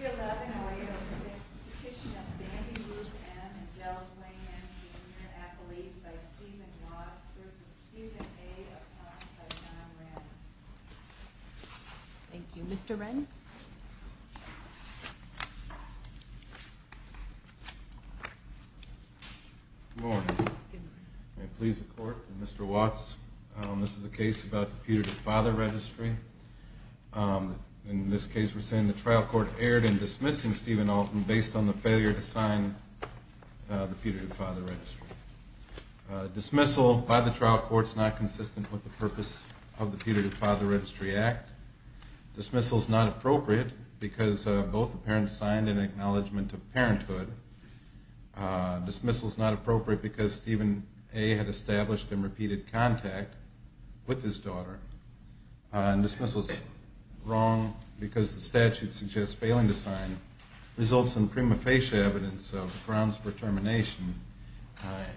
and Del Blaine M. Jr. Appellees by Stephen Watts v. Stephen A. Appont by John Renn. Thank you. Mr. Renn? Good morning. May it please the Court, Mr. Watts, this is a case about the Peter the Father Registry. In this case we're saying the trial court erred in dismissing Stephen Alton based on the failure to sign the Peter the Father Registry. Dismissal by the trial court is not consistent with the purpose of the Peter the Father Registry Act. Dismissal is not appropriate because both the parents signed an acknowledgement of parenthood. Dismissal is not appropriate because Stephen A. had established and repeated contact with his daughter. Dismissal is wrong because the statute suggests failing to sign results in prima facie evidence of grounds for termination.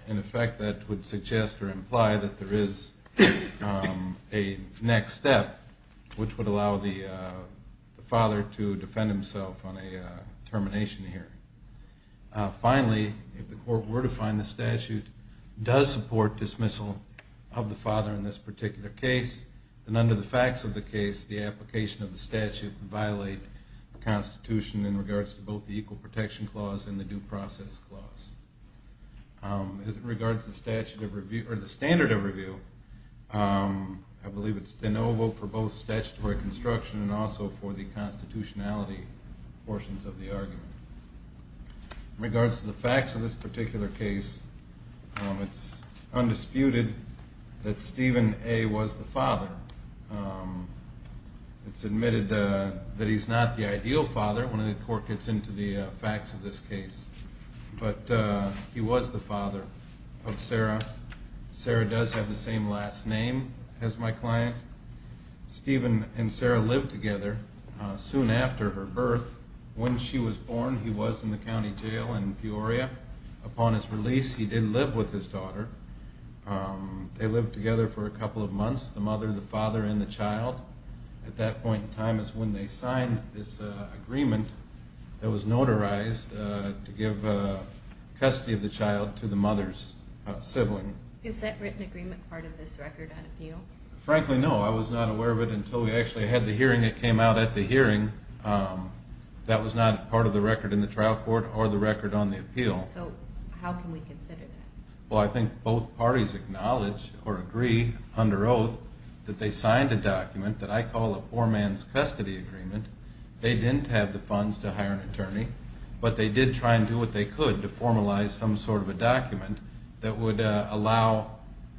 In effect that would suggest or imply that there is a next step which would allow the father to defend himself on a termination hearing. Finally, if the court were to find the statute does support dismissal of the father in this particular case, then under the facts of the case the application of the statute would violate the Constitution in regards to both the Equal Protection Clause and the Due Process Clause. As regards to the standard of review, I believe it's de novo for both statutory construction and also for the constitutionality portions of the argument. In regards to the facts of this particular case, it's undisputed that Stephen A. was the father. It's admitted that he's not the ideal father when the court gets into the facts of this case, but he was the father of Sarah. Sarah does have the same last name as my client. Stephen and Sarah lived together soon after her birth. When she was born he was in the county jail in Peoria. Upon his release he did live with his daughter. They lived together for a couple of months, the mother, the father, and the child. At that point in time is when they signed this agreement that was notarized to give custody of the child to the mother's sibling. Is that written agreement part of this record on appeal? Frankly, no. I was not aware of it until we actually had the hearing. It came out at the hearing. That was not part of the record in the trial court or the record on the appeal. So how can we consider that? Well, I think both parties acknowledge or agree under oath that they signed a document that I call a poor man's custody agreement. They didn't have the funds to hire an attorney, but they did try and do what they could to formalize some sort of a document that would allow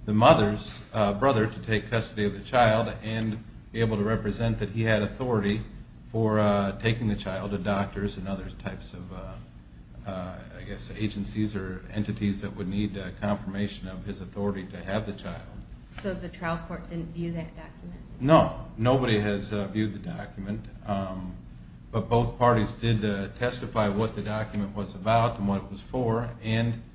the mother's brother to take custody of the child and be able to represent that he had authority for taking the child to doctors and other types of agencies or entities that would need confirmation of his authority to have the child. So the trial court didn't view that document? No. Nobody has viewed the document, but both parties did testify what the document was about and what it was for.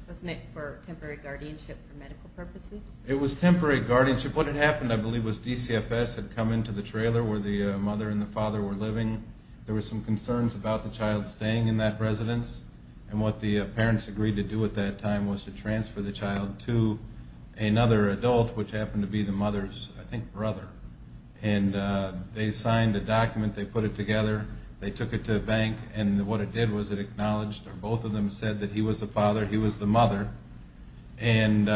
Wasn't it for temporary guardianship for medical purposes? It was temporary guardianship. What had happened, I believe, was DCFS had come into the trailer where the mother and the father were living. There were some concerns about the child staying in that residence, and what the parents agreed to do at that time was to transfer the child to another adult, which happened to be the mother's, I think, brother. And they signed a document, they put it together, they took it to a bank, and what it did was it acknowledged or both of them said that he was the father, he was the mother, and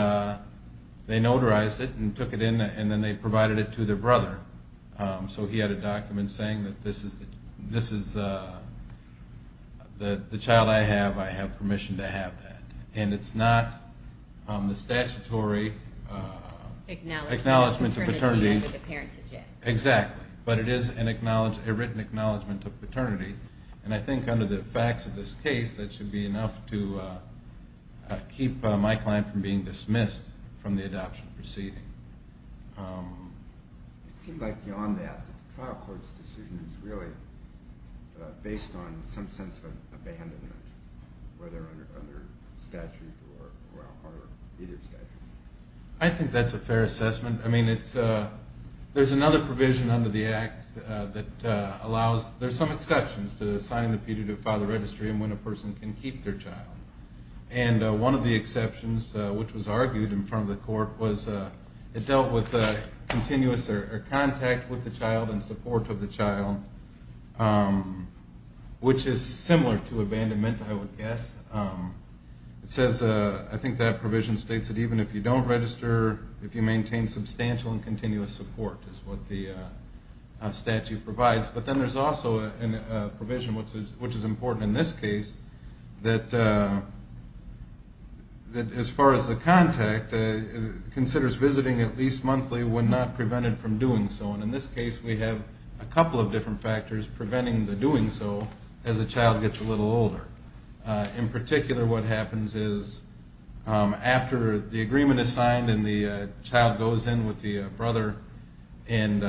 they notarized it and took it in, and then they provided it to their brother. So he had a document saying that this is the child I have, I have permission to have that. And it's not the statutory acknowledgment of paternity. But it is a written acknowledgment of paternity, and I think under the facts of this case, that should be enough to keep my client from being dismissed from the adoption proceeding. It seems like beyond that, the trial court's decision is really based on some sense of abandonment, whether under statute or either statute. I think that's a fair assessment. I mean, there's another provision under the Act that allows, there's some exceptions to signing the pediatric father registry and when a person can keep their child. And one of the exceptions, which was argued in front of the court, was it dealt with continuous contact with the child and support of the child, which is similar to abandonment, I would guess. It says, I think that provision states that even if you don't register, if you maintain substantial and continuous support, is what the statute provides. But then there's also a provision, which is important in this case, that as far as the contact, considers visiting at least monthly when not prevented from doing so. And in this case, we have a couple of different factors preventing the doing so as the child gets a little older. In particular, what happens is after the agreement is signed and the child goes in with the brother and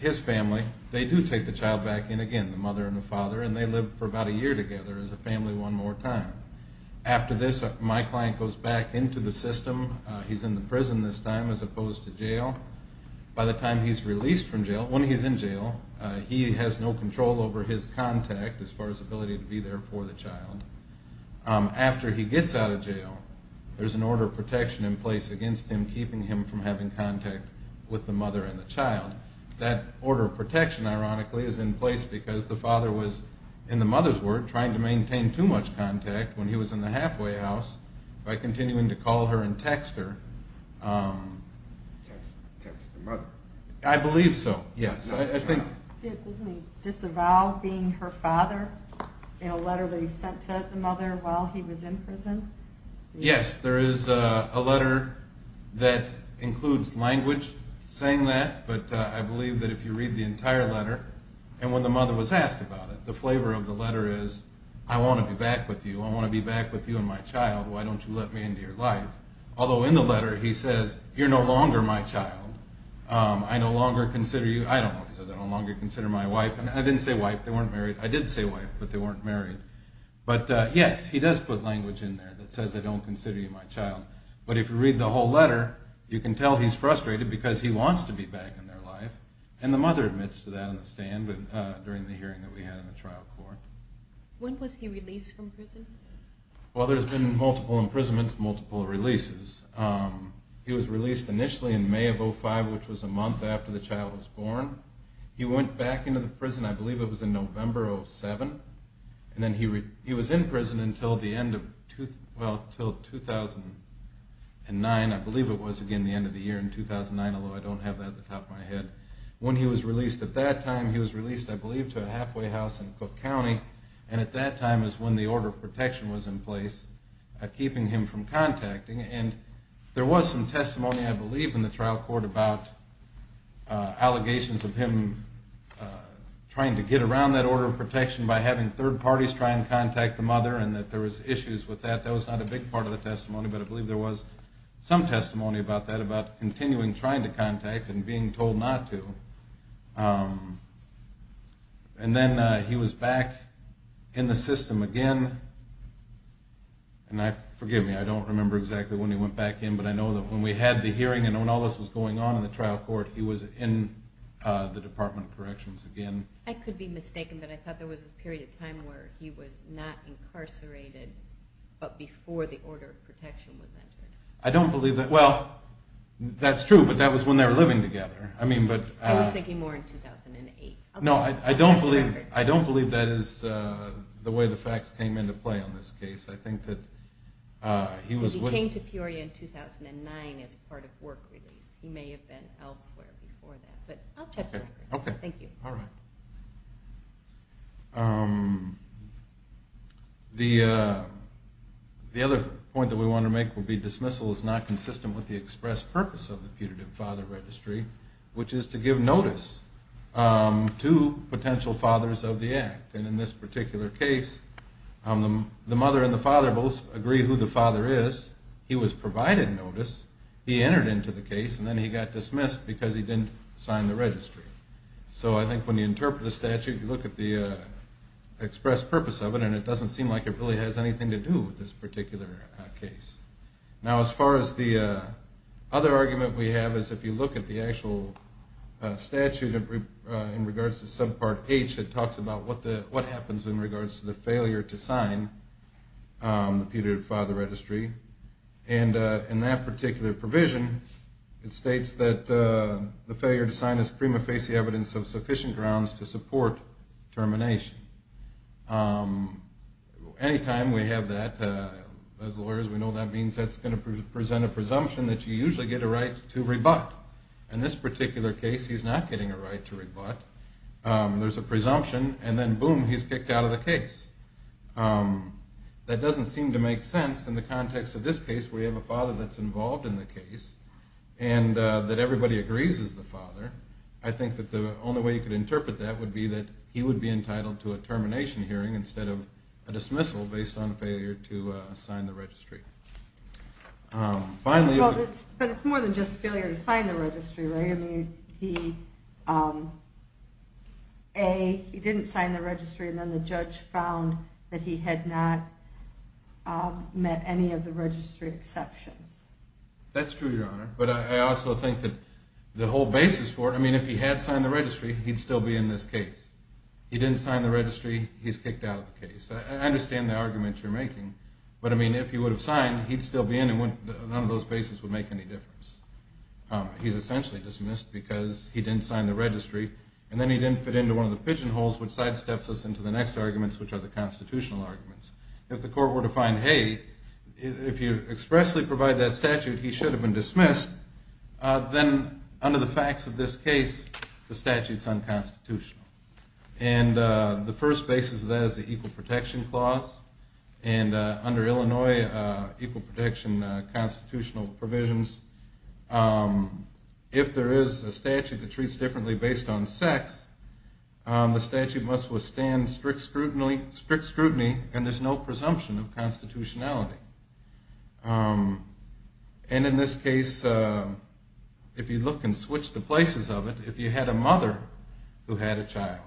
his family, they do take the child back in again, the mother and the father, and they live for about a year together as a family one more time. After this, my client goes back into the system. He's in the prison this time as opposed to jail. By the time he's released from jail, when he's in jail, he has no control over his contact as far as ability to be there for the child. After he gets out of jail, there's an order of protection in place against him keeping him from having contact with the mother and the child. That order of protection, ironically, is in place because the father was, in the mother's word, trying to maintain too much contact when he was in the halfway house by continuing to call her and text her. Text the mother? I believe so, yes. Doesn't he disavow being her father in a letter that he sent to the mother while he was in prison? Yes, there is a letter that includes language saying that, but I believe that if you read the entire letter, and when the mother was asked about it, the flavor of the letter is, I want to be back with you. I want to be back with you and my child. Why don't you let me into your life? Although in the letter, he says, you're no longer my child. I no longer consider you, I don't know, he says, I no longer consider my wife. I didn't say wife, they weren't married. I did say wife, but they weren't married. But yes, he does put language in there that says I don't consider you my child. But if you read the whole letter, you can tell he's frustrated because he wants to be back in their life, and the mother admits to that on the stand during the hearing that we had in the trial court. When was he released from prison? Well, there's been multiple imprisonments, multiple releases. He was released initially in May of 2005, which was a month after the child was born. He went back into the prison, I believe it was in November of 2007, and then he was in prison until the end of 2009, I believe it was again the end of the year in 2009, although I don't have that at the top of my head. When he was released at that time, he was released, I believe, to a halfway house in Cook County, and at that time is when the order of protection was in place, keeping him from contacting. And there was some testimony, I believe, in the trial court about allegations of him trying to get around that order of protection by having third parties try and contact the mother and that there was issues with that. That was not a big part of the testimony, but I believe there was some testimony about that, about continuing trying to contact and being told not to. And then he was back in the system again, and I, forgive me, I don't remember exactly when he went back in, but I know that when we had the hearing and when all this was going on in the trial court, he was in the Department of Corrections again. I could be mistaken, but I thought there was a period of time where he was not incarcerated, but before the order of protection was entered. I don't believe that. Well, that's true, but that was when they were living together. I was thinking more in 2008. No, I don't believe that is the way the facts came into play on this case. I think that he was... He was in Peoria in 2009 as part of work release. He may have been elsewhere before that, but I'll check later. Okay. Thank you. All right. The other point that we want to make would be dismissal is not consistent with the express purpose of the putative father registry, which is to give notice to potential fathers of the act. And in this particular case, the mother and the father both agree who the father is, he was provided notice, he entered into the case, and then he got dismissed because he didn't sign the registry. So I think when you interpret a statute, you look at the express purpose of it, and it doesn't seem like it really has anything to do with this particular case. Now, as far as the other argument we have is if you look at the actual statute in regards to subpart H, it talks about what happens in regards to the failure to sign the putative father registry. And in that particular provision, it states that the failure to sign is prima facie evidence of sufficient grounds to support termination. Anytime we have that, as lawyers we know that means that's going to present a presumption that you usually get a right to rebut. In this particular case, he's not getting a right to rebut. There's a presumption, and then boom, he's kicked out of the case. That doesn't seem to make sense in the context of this case where you have a father that's involved in the case, and that everybody agrees is the father. I think that the only way you could interpret that would be that he would be entitled to a termination hearing instead of a dismissal based on a failure to sign the registry. But it's more than just a failure to sign the registry, right? A, he didn't sign the registry, and then the judge found that he had not met any of the registry exceptions. That's true, Your Honor, but I also think that the whole basis for it, I mean, if he had signed the registry, he'd still be in this case. He didn't sign the registry, he's kicked out of the case. I understand the argument you're making, but I mean, if he would have signed, he'd still be in and none of those bases would make any difference. He's essentially dismissed because he didn't sign the registry, and then he didn't fit into one of the pigeonholes which sidesteps us into the next arguments, which are the constitutional arguments. If the court were to find, hey, if you expressly provide that statute, he should have been dismissed, then under the facts of this case, the statute's unconstitutional. And the first basis of that is the equal protection clause, and under Illinois, equal protection constitutional provisions, if there is a statute that treats differently based on sex, the statute must withstand strict scrutiny, and there's no presumption of constitutionality. And in this case, if you look and switch the places of it, if you had a mother who had a child,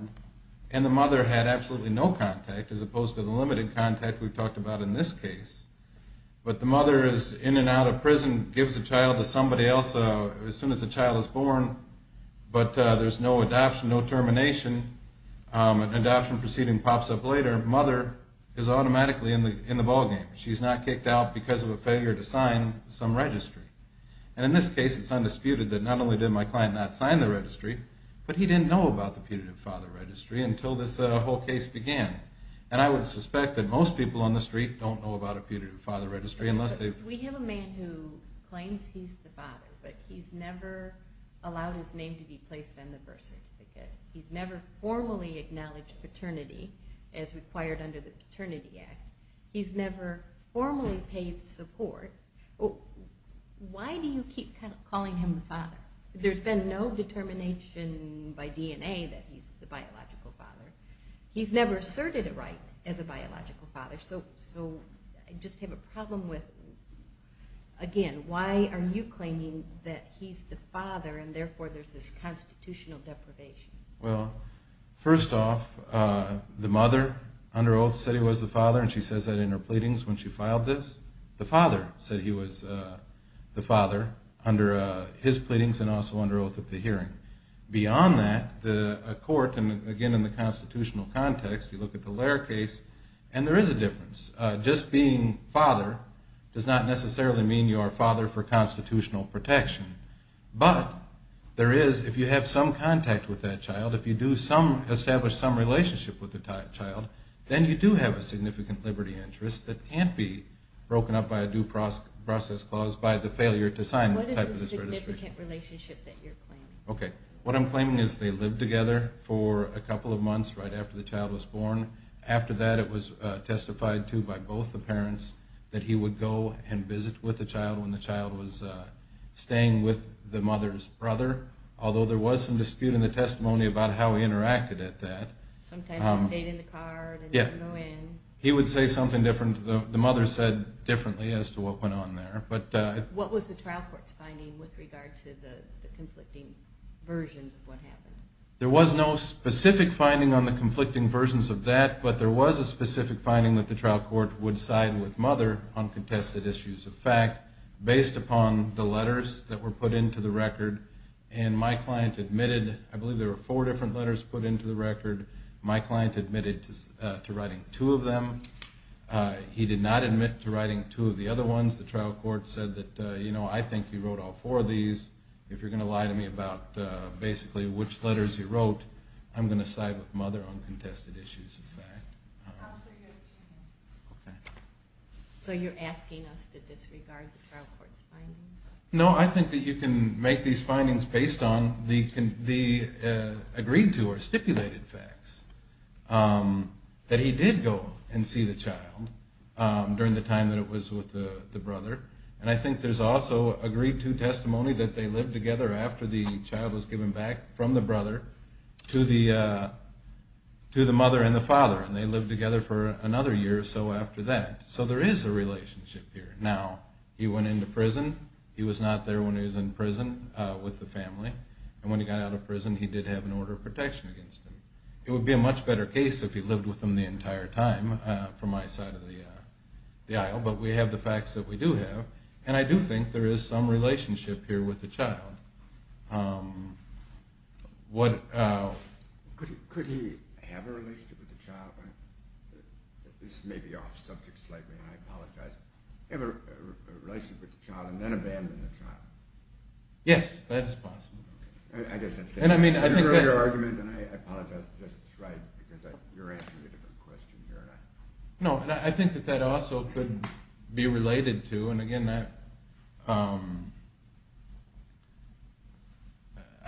and the mother had absolutely no contact, as opposed to the limited contact we talked about in this case, but the mother is in and out of prison, gives the child to somebody else as soon as the child is born, but there's no adoption, no termination, adoption proceeding pops up later, mother is automatically in the ballgame. She's not kicked out because of a failure to sign some registry. And in this case, it's undisputed that not only did my client not sign the registry, but he didn't know about the putative father registry until this whole case began. And I would suspect that most people on the street don't know about a putative father registry. We have a man who claims he's the father, but he's never allowed his name to be placed on the birth certificate. He's never formally acknowledged paternity as required under the Paternity Act. He's never formally paid support. Why do you keep calling him the father? There's been no determination by DNA that he's the biological father. He's never asserted a right as a biological father. So I just have a problem with, again, why are you claiming that he's the father and therefore there's this constitutional deprivation? Well, first off, the mother under oath said he was the father and she says that in her pleadings when she filed this. The father said he was the father under his pleadings and also under oath at the hearing. Beyond that, the court, and again in the constitutional context, you look at the Lair case, and there is a difference. Just being father does not necessarily mean you are father for constitutional protection. But there is, if you have some contact with that child, if you do establish some relationship with the child, then you do have a significant liberty interest that can't be broken up by a due process clause by the failure to sign the type of registration. What is the significant relationship that you're claiming? Okay. What I'm claiming is they lived together for a couple of months right after the child was born. After that, it was testified to by both the parents that he would go and visit with the child when the child was staying with the mother's brother. Although there was some dispute in the testimony about how he interacted at that. Sometimes he stayed in the car and didn't go in. He would say something different. The mother said differently as to what went on there. What was the trial court's finding with regard to the conflicting versions of what happened? There was no specific finding on the conflicting versions of that, but there was a specific finding that the trial court would side with mother on contested issues of fact based upon the letters that were put into the record. And my client admitted, I believe there were four different letters put into the record. My client admitted to writing two of them. He did not admit to writing two of the other ones. The trial court said that, you know, I think he wrote all four of these. If you're going to lie to me about basically which letters he wrote, I'm going to side with mother on contested issues of fact. Counselor, you have a chance. Okay. So you're asking us to disregard the trial court's findings? No, I think that you can make these findings based on the agreed to or stipulated facts. That he did go and see the child during the time that it was with the brother. And I think there's also agreed to testimony that they lived together after the child was given back from the brother to the mother and the father. And they lived together for another year or so after that. So there is a relationship here. Now, he went into prison. He was not there when he was in prison with the family. And when he got out of prison he did have an order of protection against him. It would be a much better case if he lived with them the entire time from my side of the aisle. But we have the facts that we do have. And I do think there is some relationship here with the child. Could he have a relationship with the child? This may be off subject slightly and I apologize. Have a relationship with the child and then abandon the child? Yes, that is possible. I guess that's the earlier argument and I apologize if that's right because you're asking a different question here. No, and I think that that also could be related to, and again, I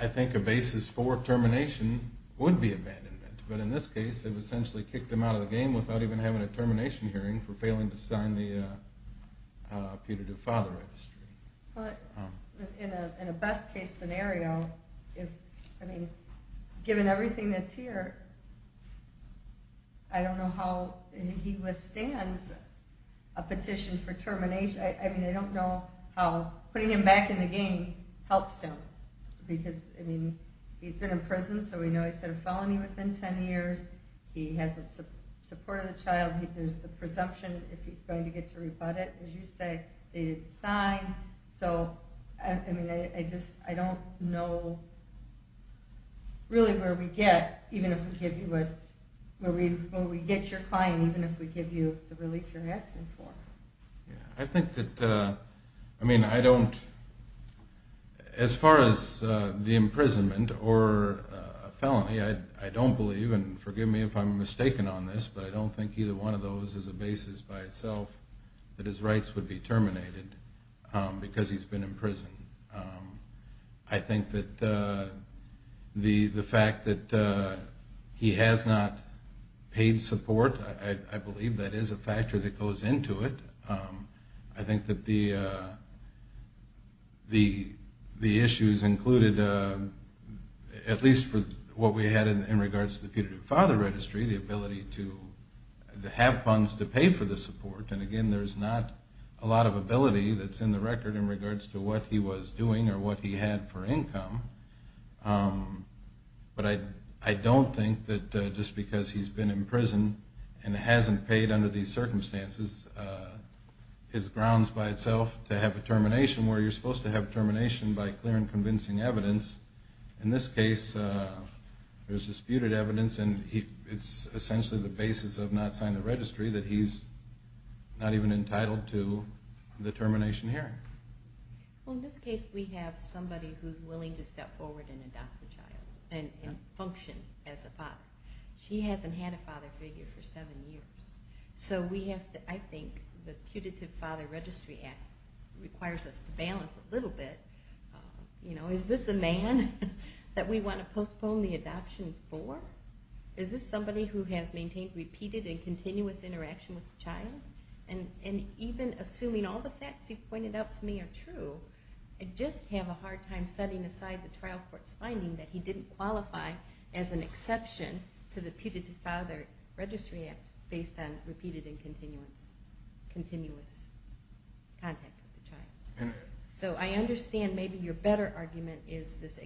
think a basis for termination would be abandonment. But in this case it essentially kicked him out of the game without even having a termination hearing for failing to sign the putative father registry. In a best case scenario, given everything that's here, I don't know how he withstands a petition for termination. I mean, I don't know how putting him back in the game helps him. Because, I mean, he's been in prison so we know he's got a felony within ten years. He has the support of the child. There's the presumption if he's going to get to rebut it. As you say, it's signed, so I don't know really where we get your client even if we give you the relief you're asking for. I think that, I mean, I don't, as far as the imprisonment or felony, I don't believe, and forgive me if I'm mistaken on this, but I don't think either one of those is a basis by itself that his rights would be terminated because he's been in prison. I think that the fact that he has not paid support, I believe that is a factor that goes into it. I think that the issues included, at least for what we had in regards to the putative father registry, the ability to have funds to pay for the support. And again, there's not a lot of ability that's in the record in regards to what he was doing or what he had for income. But I don't think that just because he's been in prison and hasn't paid under these circumstances his grounds by itself to have a termination, where you're supposed to have termination by clear and convincing evidence. In this case, there's disputed evidence and it's essentially the basis of not signing the registry that he's not even entitled to the termination hearing. Well, in this case, we have somebody who's willing to step forward and adopt the child and function as a father. She hasn't had a father figure for seven years. So I think the putative father registry act requires us to balance a little bit. Is this a man that we want to postpone the adoption for? Is this somebody who has maintained repeated and continuous interaction with the child? And even assuming all the facts you've pointed out to me are true, I just have a hard time setting aside the trial court's finding that he didn't qualify as an exception to the putative father registry act based on repeated and continuous contact with the child. So I understand maybe your better argument is this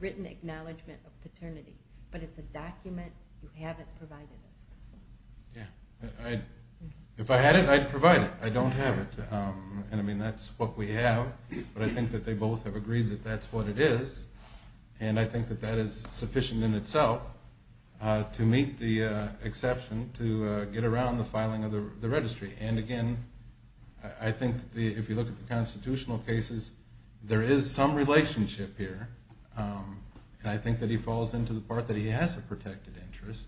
written acknowledgment of paternity, but it's a document you haven't provided us with. If I had it, I'd provide it. I don't have it. And I mean, that's what we have. But I think that they both have agreed that that's what it is. And I think that that is sufficient in itself to meet the exception to get around the filing of the registry. And again, I think if you look at the constitutional cases, there is some relationship here. And I think that he falls into the part that he has a protected interest.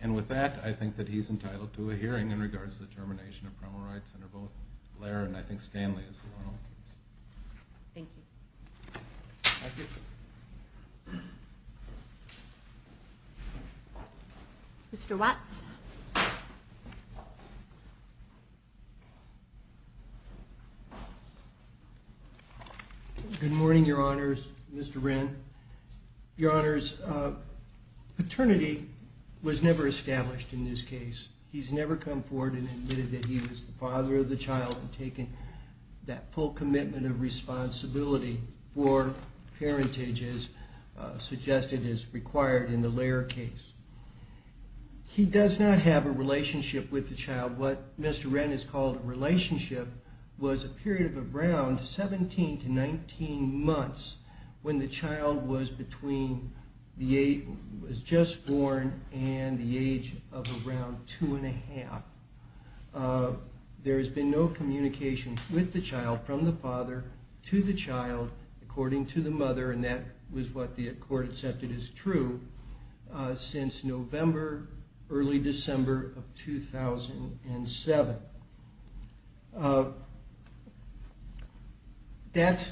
And with that, I think that he's entitled to a hearing in regards to the termination of criminal rights under both Blair and I think Stanley as well. Thank you. Mr. Watts. Good morning, Your Honors. Mr. Wren. Your Honors, paternity was never established in this case. He's never come forward and admitted that he was the father of the child and taken that full commitment of responsibility for parentages suggested is required in the Lair case. He does not have a relationship with the child. What Mr. Wren has called a relationship was a period of around 17 to 19 months when the child was just born and the age of around two and a half. There has been no communication with the child from the father to the child according to the mother. And that was what the court accepted as true since November, early December of 2007. That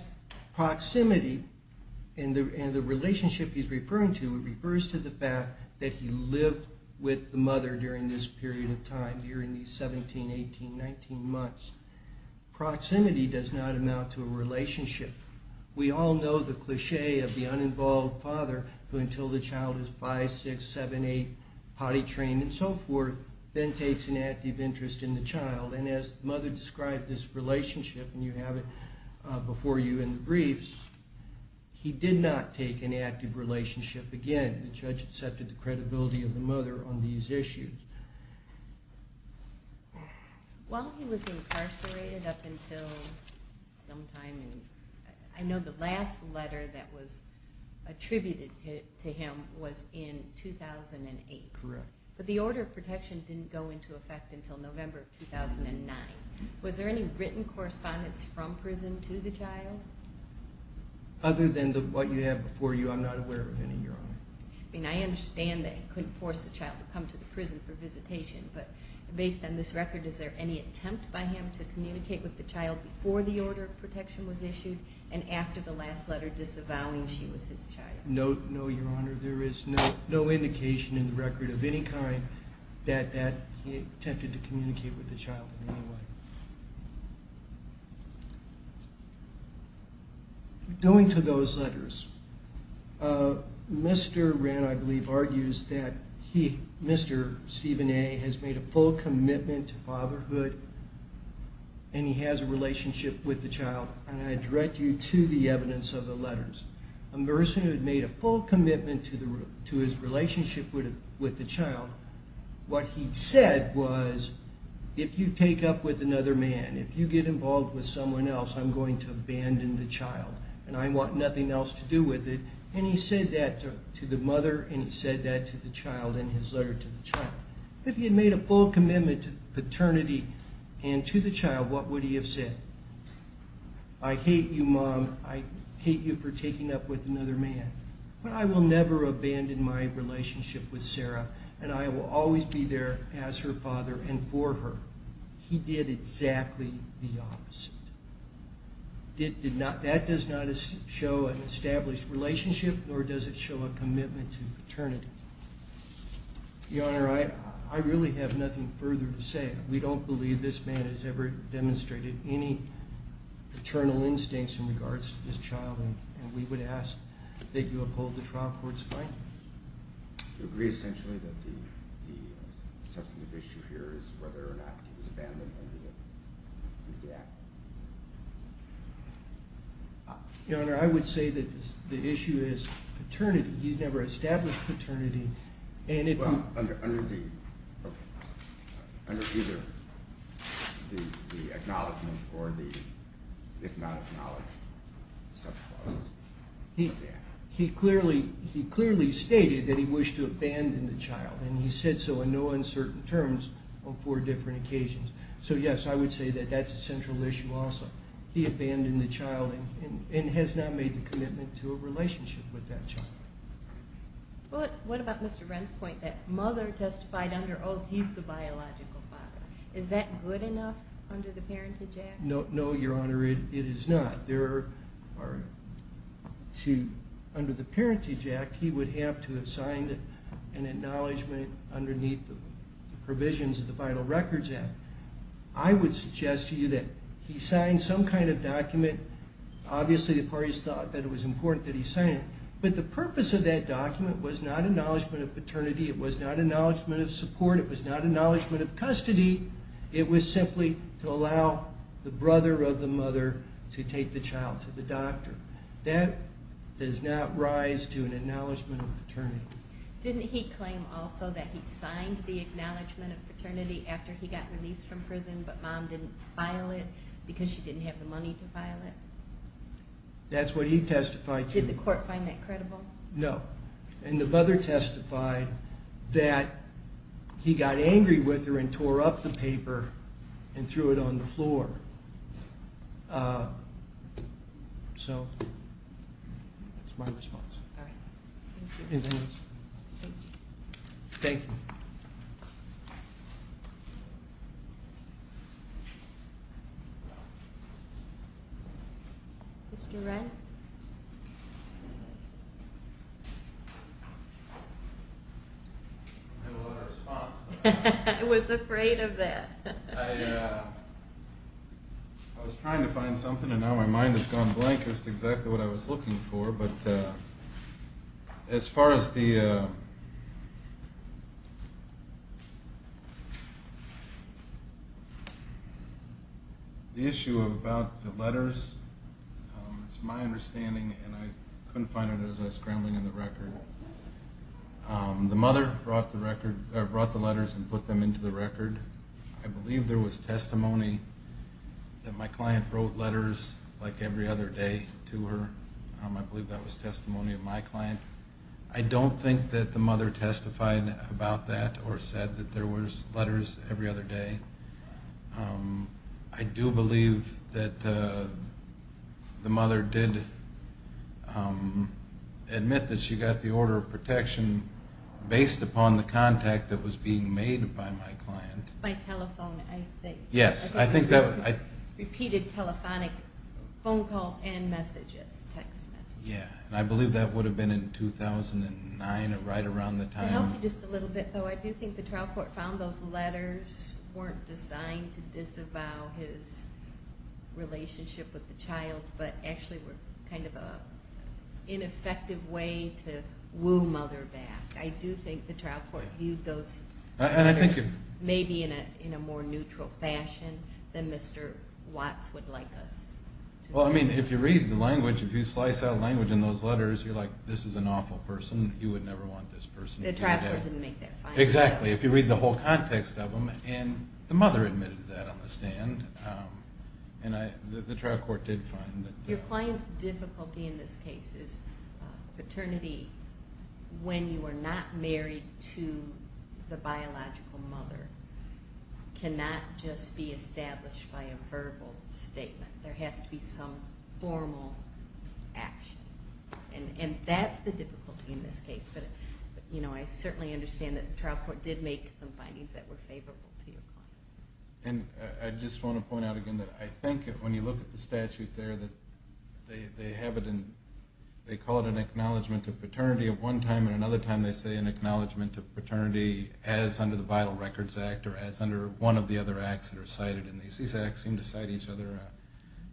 proximity and the relationship he's referring to refers to the fact that he lived with the mother during this period of time, during these 17, 18, 19 months. Proximity does not amount to a relationship. We all know the cliche of the uninvolved father who until the child is 5, 6, 7, 8, potty trained and so forth, then takes an active interest in the child. And as the mother described this relationship, and you have it before you in the briefs, he did not take an active relationship again. The judge accepted the credibility of the mother on these issues. While he was incarcerated up until sometime, I know the last letter that was attributed to him was in 2008. Correct. But the order of protection didn't go into effect until November of 2009. Was there any written correspondence from prison to the child? Other than what you have before you, I'm not aware of any, Your Honor. I mean, I understand that he couldn't force the child to come to the prison for visitation, but based on this record, is there any attempt by him to communicate with the child before the order of protection was issued and after the last letter disavowing she was his child? No, Your Honor. There is no indication in the record of any kind that he attempted to communicate with the child in any way. Going to those letters, Mr. Wren, I believe, argues that he, Mr. Stephen A., has made a full commitment to fatherhood, and he has a relationship with the child. And I direct you to the evidence of the letters. A person who had made a full commitment to his relationship with the child, what he said was, if you take up with another man, if you get involved with someone else, I'm going to abandon the child, and I want nothing else to do with it. And he said that to the mother, and he said that to the child in his letter to the child. If he had made a full commitment to paternity and to the child, what would he have said? I hate you, Mom. I hate you for taking up with another man. But I will never abandon my relationship with Sarah, and I will always be there as her father and for her. He did exactly the opposite. That does not show an established relationship, nor does it show a commitment to paternity. Your Honor, I really have nothing further to say. We don't believe this man has ever demonstrated any paternal instincts in regards to this child, and we would ask that you uphold the trial court's finding. Do you agree essentially that the substantive issue here is whether or not he was abandoned under the act? Your Honor, I would say that the issue is paternity. He's never established paternity. Well, under either the acknowledgment or the, if not acknowledged, subclause. He clearly stated that he wished to abandon the child, and he said so in no uncertain terms on four different occasions. So, yes, I would say that that's a central issue also. He abandoned the child and has not made the commitment to a relationship with that child. What about Mr. Wren's point that mother testified under oath he's the biological father? Is that good enough under the Parentage Act? No, Your Honor, it is not. Under the Parentage Act, he would have to have signed an acknowledgment underneath the provisions of the Vital Records Act. I would suggest to you that he sign some kind of document. Obviously, the parties thought that it was important that he sign it. But the purpose of that document was not acknowledgment of paternity. It was not acknowledgment of support. It was not acknowledgment of custody. It was simply to allow the brother of the mother to take the child to the doctor. That does not rise to an acknowledgment of paternity. Didn't he claim also that he signed the acknowledgment of paternity after he got released from prison, but Mom didn't file it because she didn't have the money to file it? That's what he testified to. Did the court find that credible? No. And the brother testified that he got angry with her and tore up the paper and threw it on the floor. So that's my response. All right. Thank you. Thank you. Thank you. Thank you. Mr. Renn? I don't know the response. I was afraid of that. I was trying to find something, and now my mind has gone blank as to exactly what I was looking for. But as far as the issue about the letters, it's my understanding, and I couldn't find it as I was scrambling in the record. The mother brought the letters and put them into the record. I believe there was testimony that my client wrote letters like every other day to her. I believe that was testimony of my client. I don't think that the mother testified about that or said that there was letters every other day. I do believe that the mother did admit that she got the order of protection based upon the contact that was being made by my client. By telephone, I think. Yes. Repeated telephonic phone calls and messages, text messages. Yes, and I believe that would have been in 2009, right around the time. To help you just a little bit, though, I do think the trial court found those letters weren't designed to disavow his relationship with the child, but actually were kind of an ineffective way to woo mother back. I do think the trial court viewed those letters maybe in a more neutral fashion than Mr. Watts would like us to. Well, I mean, if you read the language, if you slice out language in those letters, you're like, this is an awful person. He would never want this person to be dead. The trial court didn't make that finding. Exactly. If you read the whole context of them, and the mother admitted that on the stand, and the trial court did find that. Your client's difficulty in this case is paternity, when you are not married to the biological mother, cannot just be established by a verbal statement. There has to be some formal action. And that's the difficulty in this case, but I certainly understand that the trial court did make some findings that were favorable to your client. And I just want to point out again that I think that when you look at the statute there, they have it in, they call it an acknowledgment of paternity at one time, and another time they say an acknowledgment of paternity as under the Vital Records Act, or as under one of the other acts that are cited in these. These acts seem to cite each other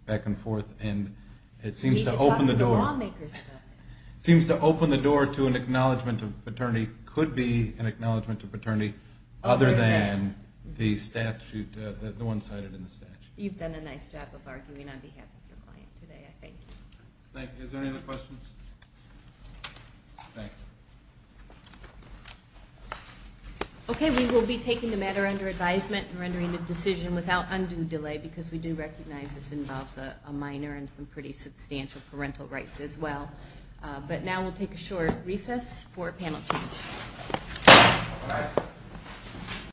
back and forth, and it seems to open the door. You could talk to the lawmakers about it. It seems to open the door to an acknowledgment of paternity, could be an acknowledgment of paternity, other than the statute, the one cited in the statute. You've done a nice job of arguing on behalf of your client today, I think. Thank you. Is there any other questions? Okay, we will be taking the matter under advisement and rendering a decision without undue delay, because we do recognize this involves a minor and some pretty substantial parental rights as well. But now we'll take a short recess for Panel 2.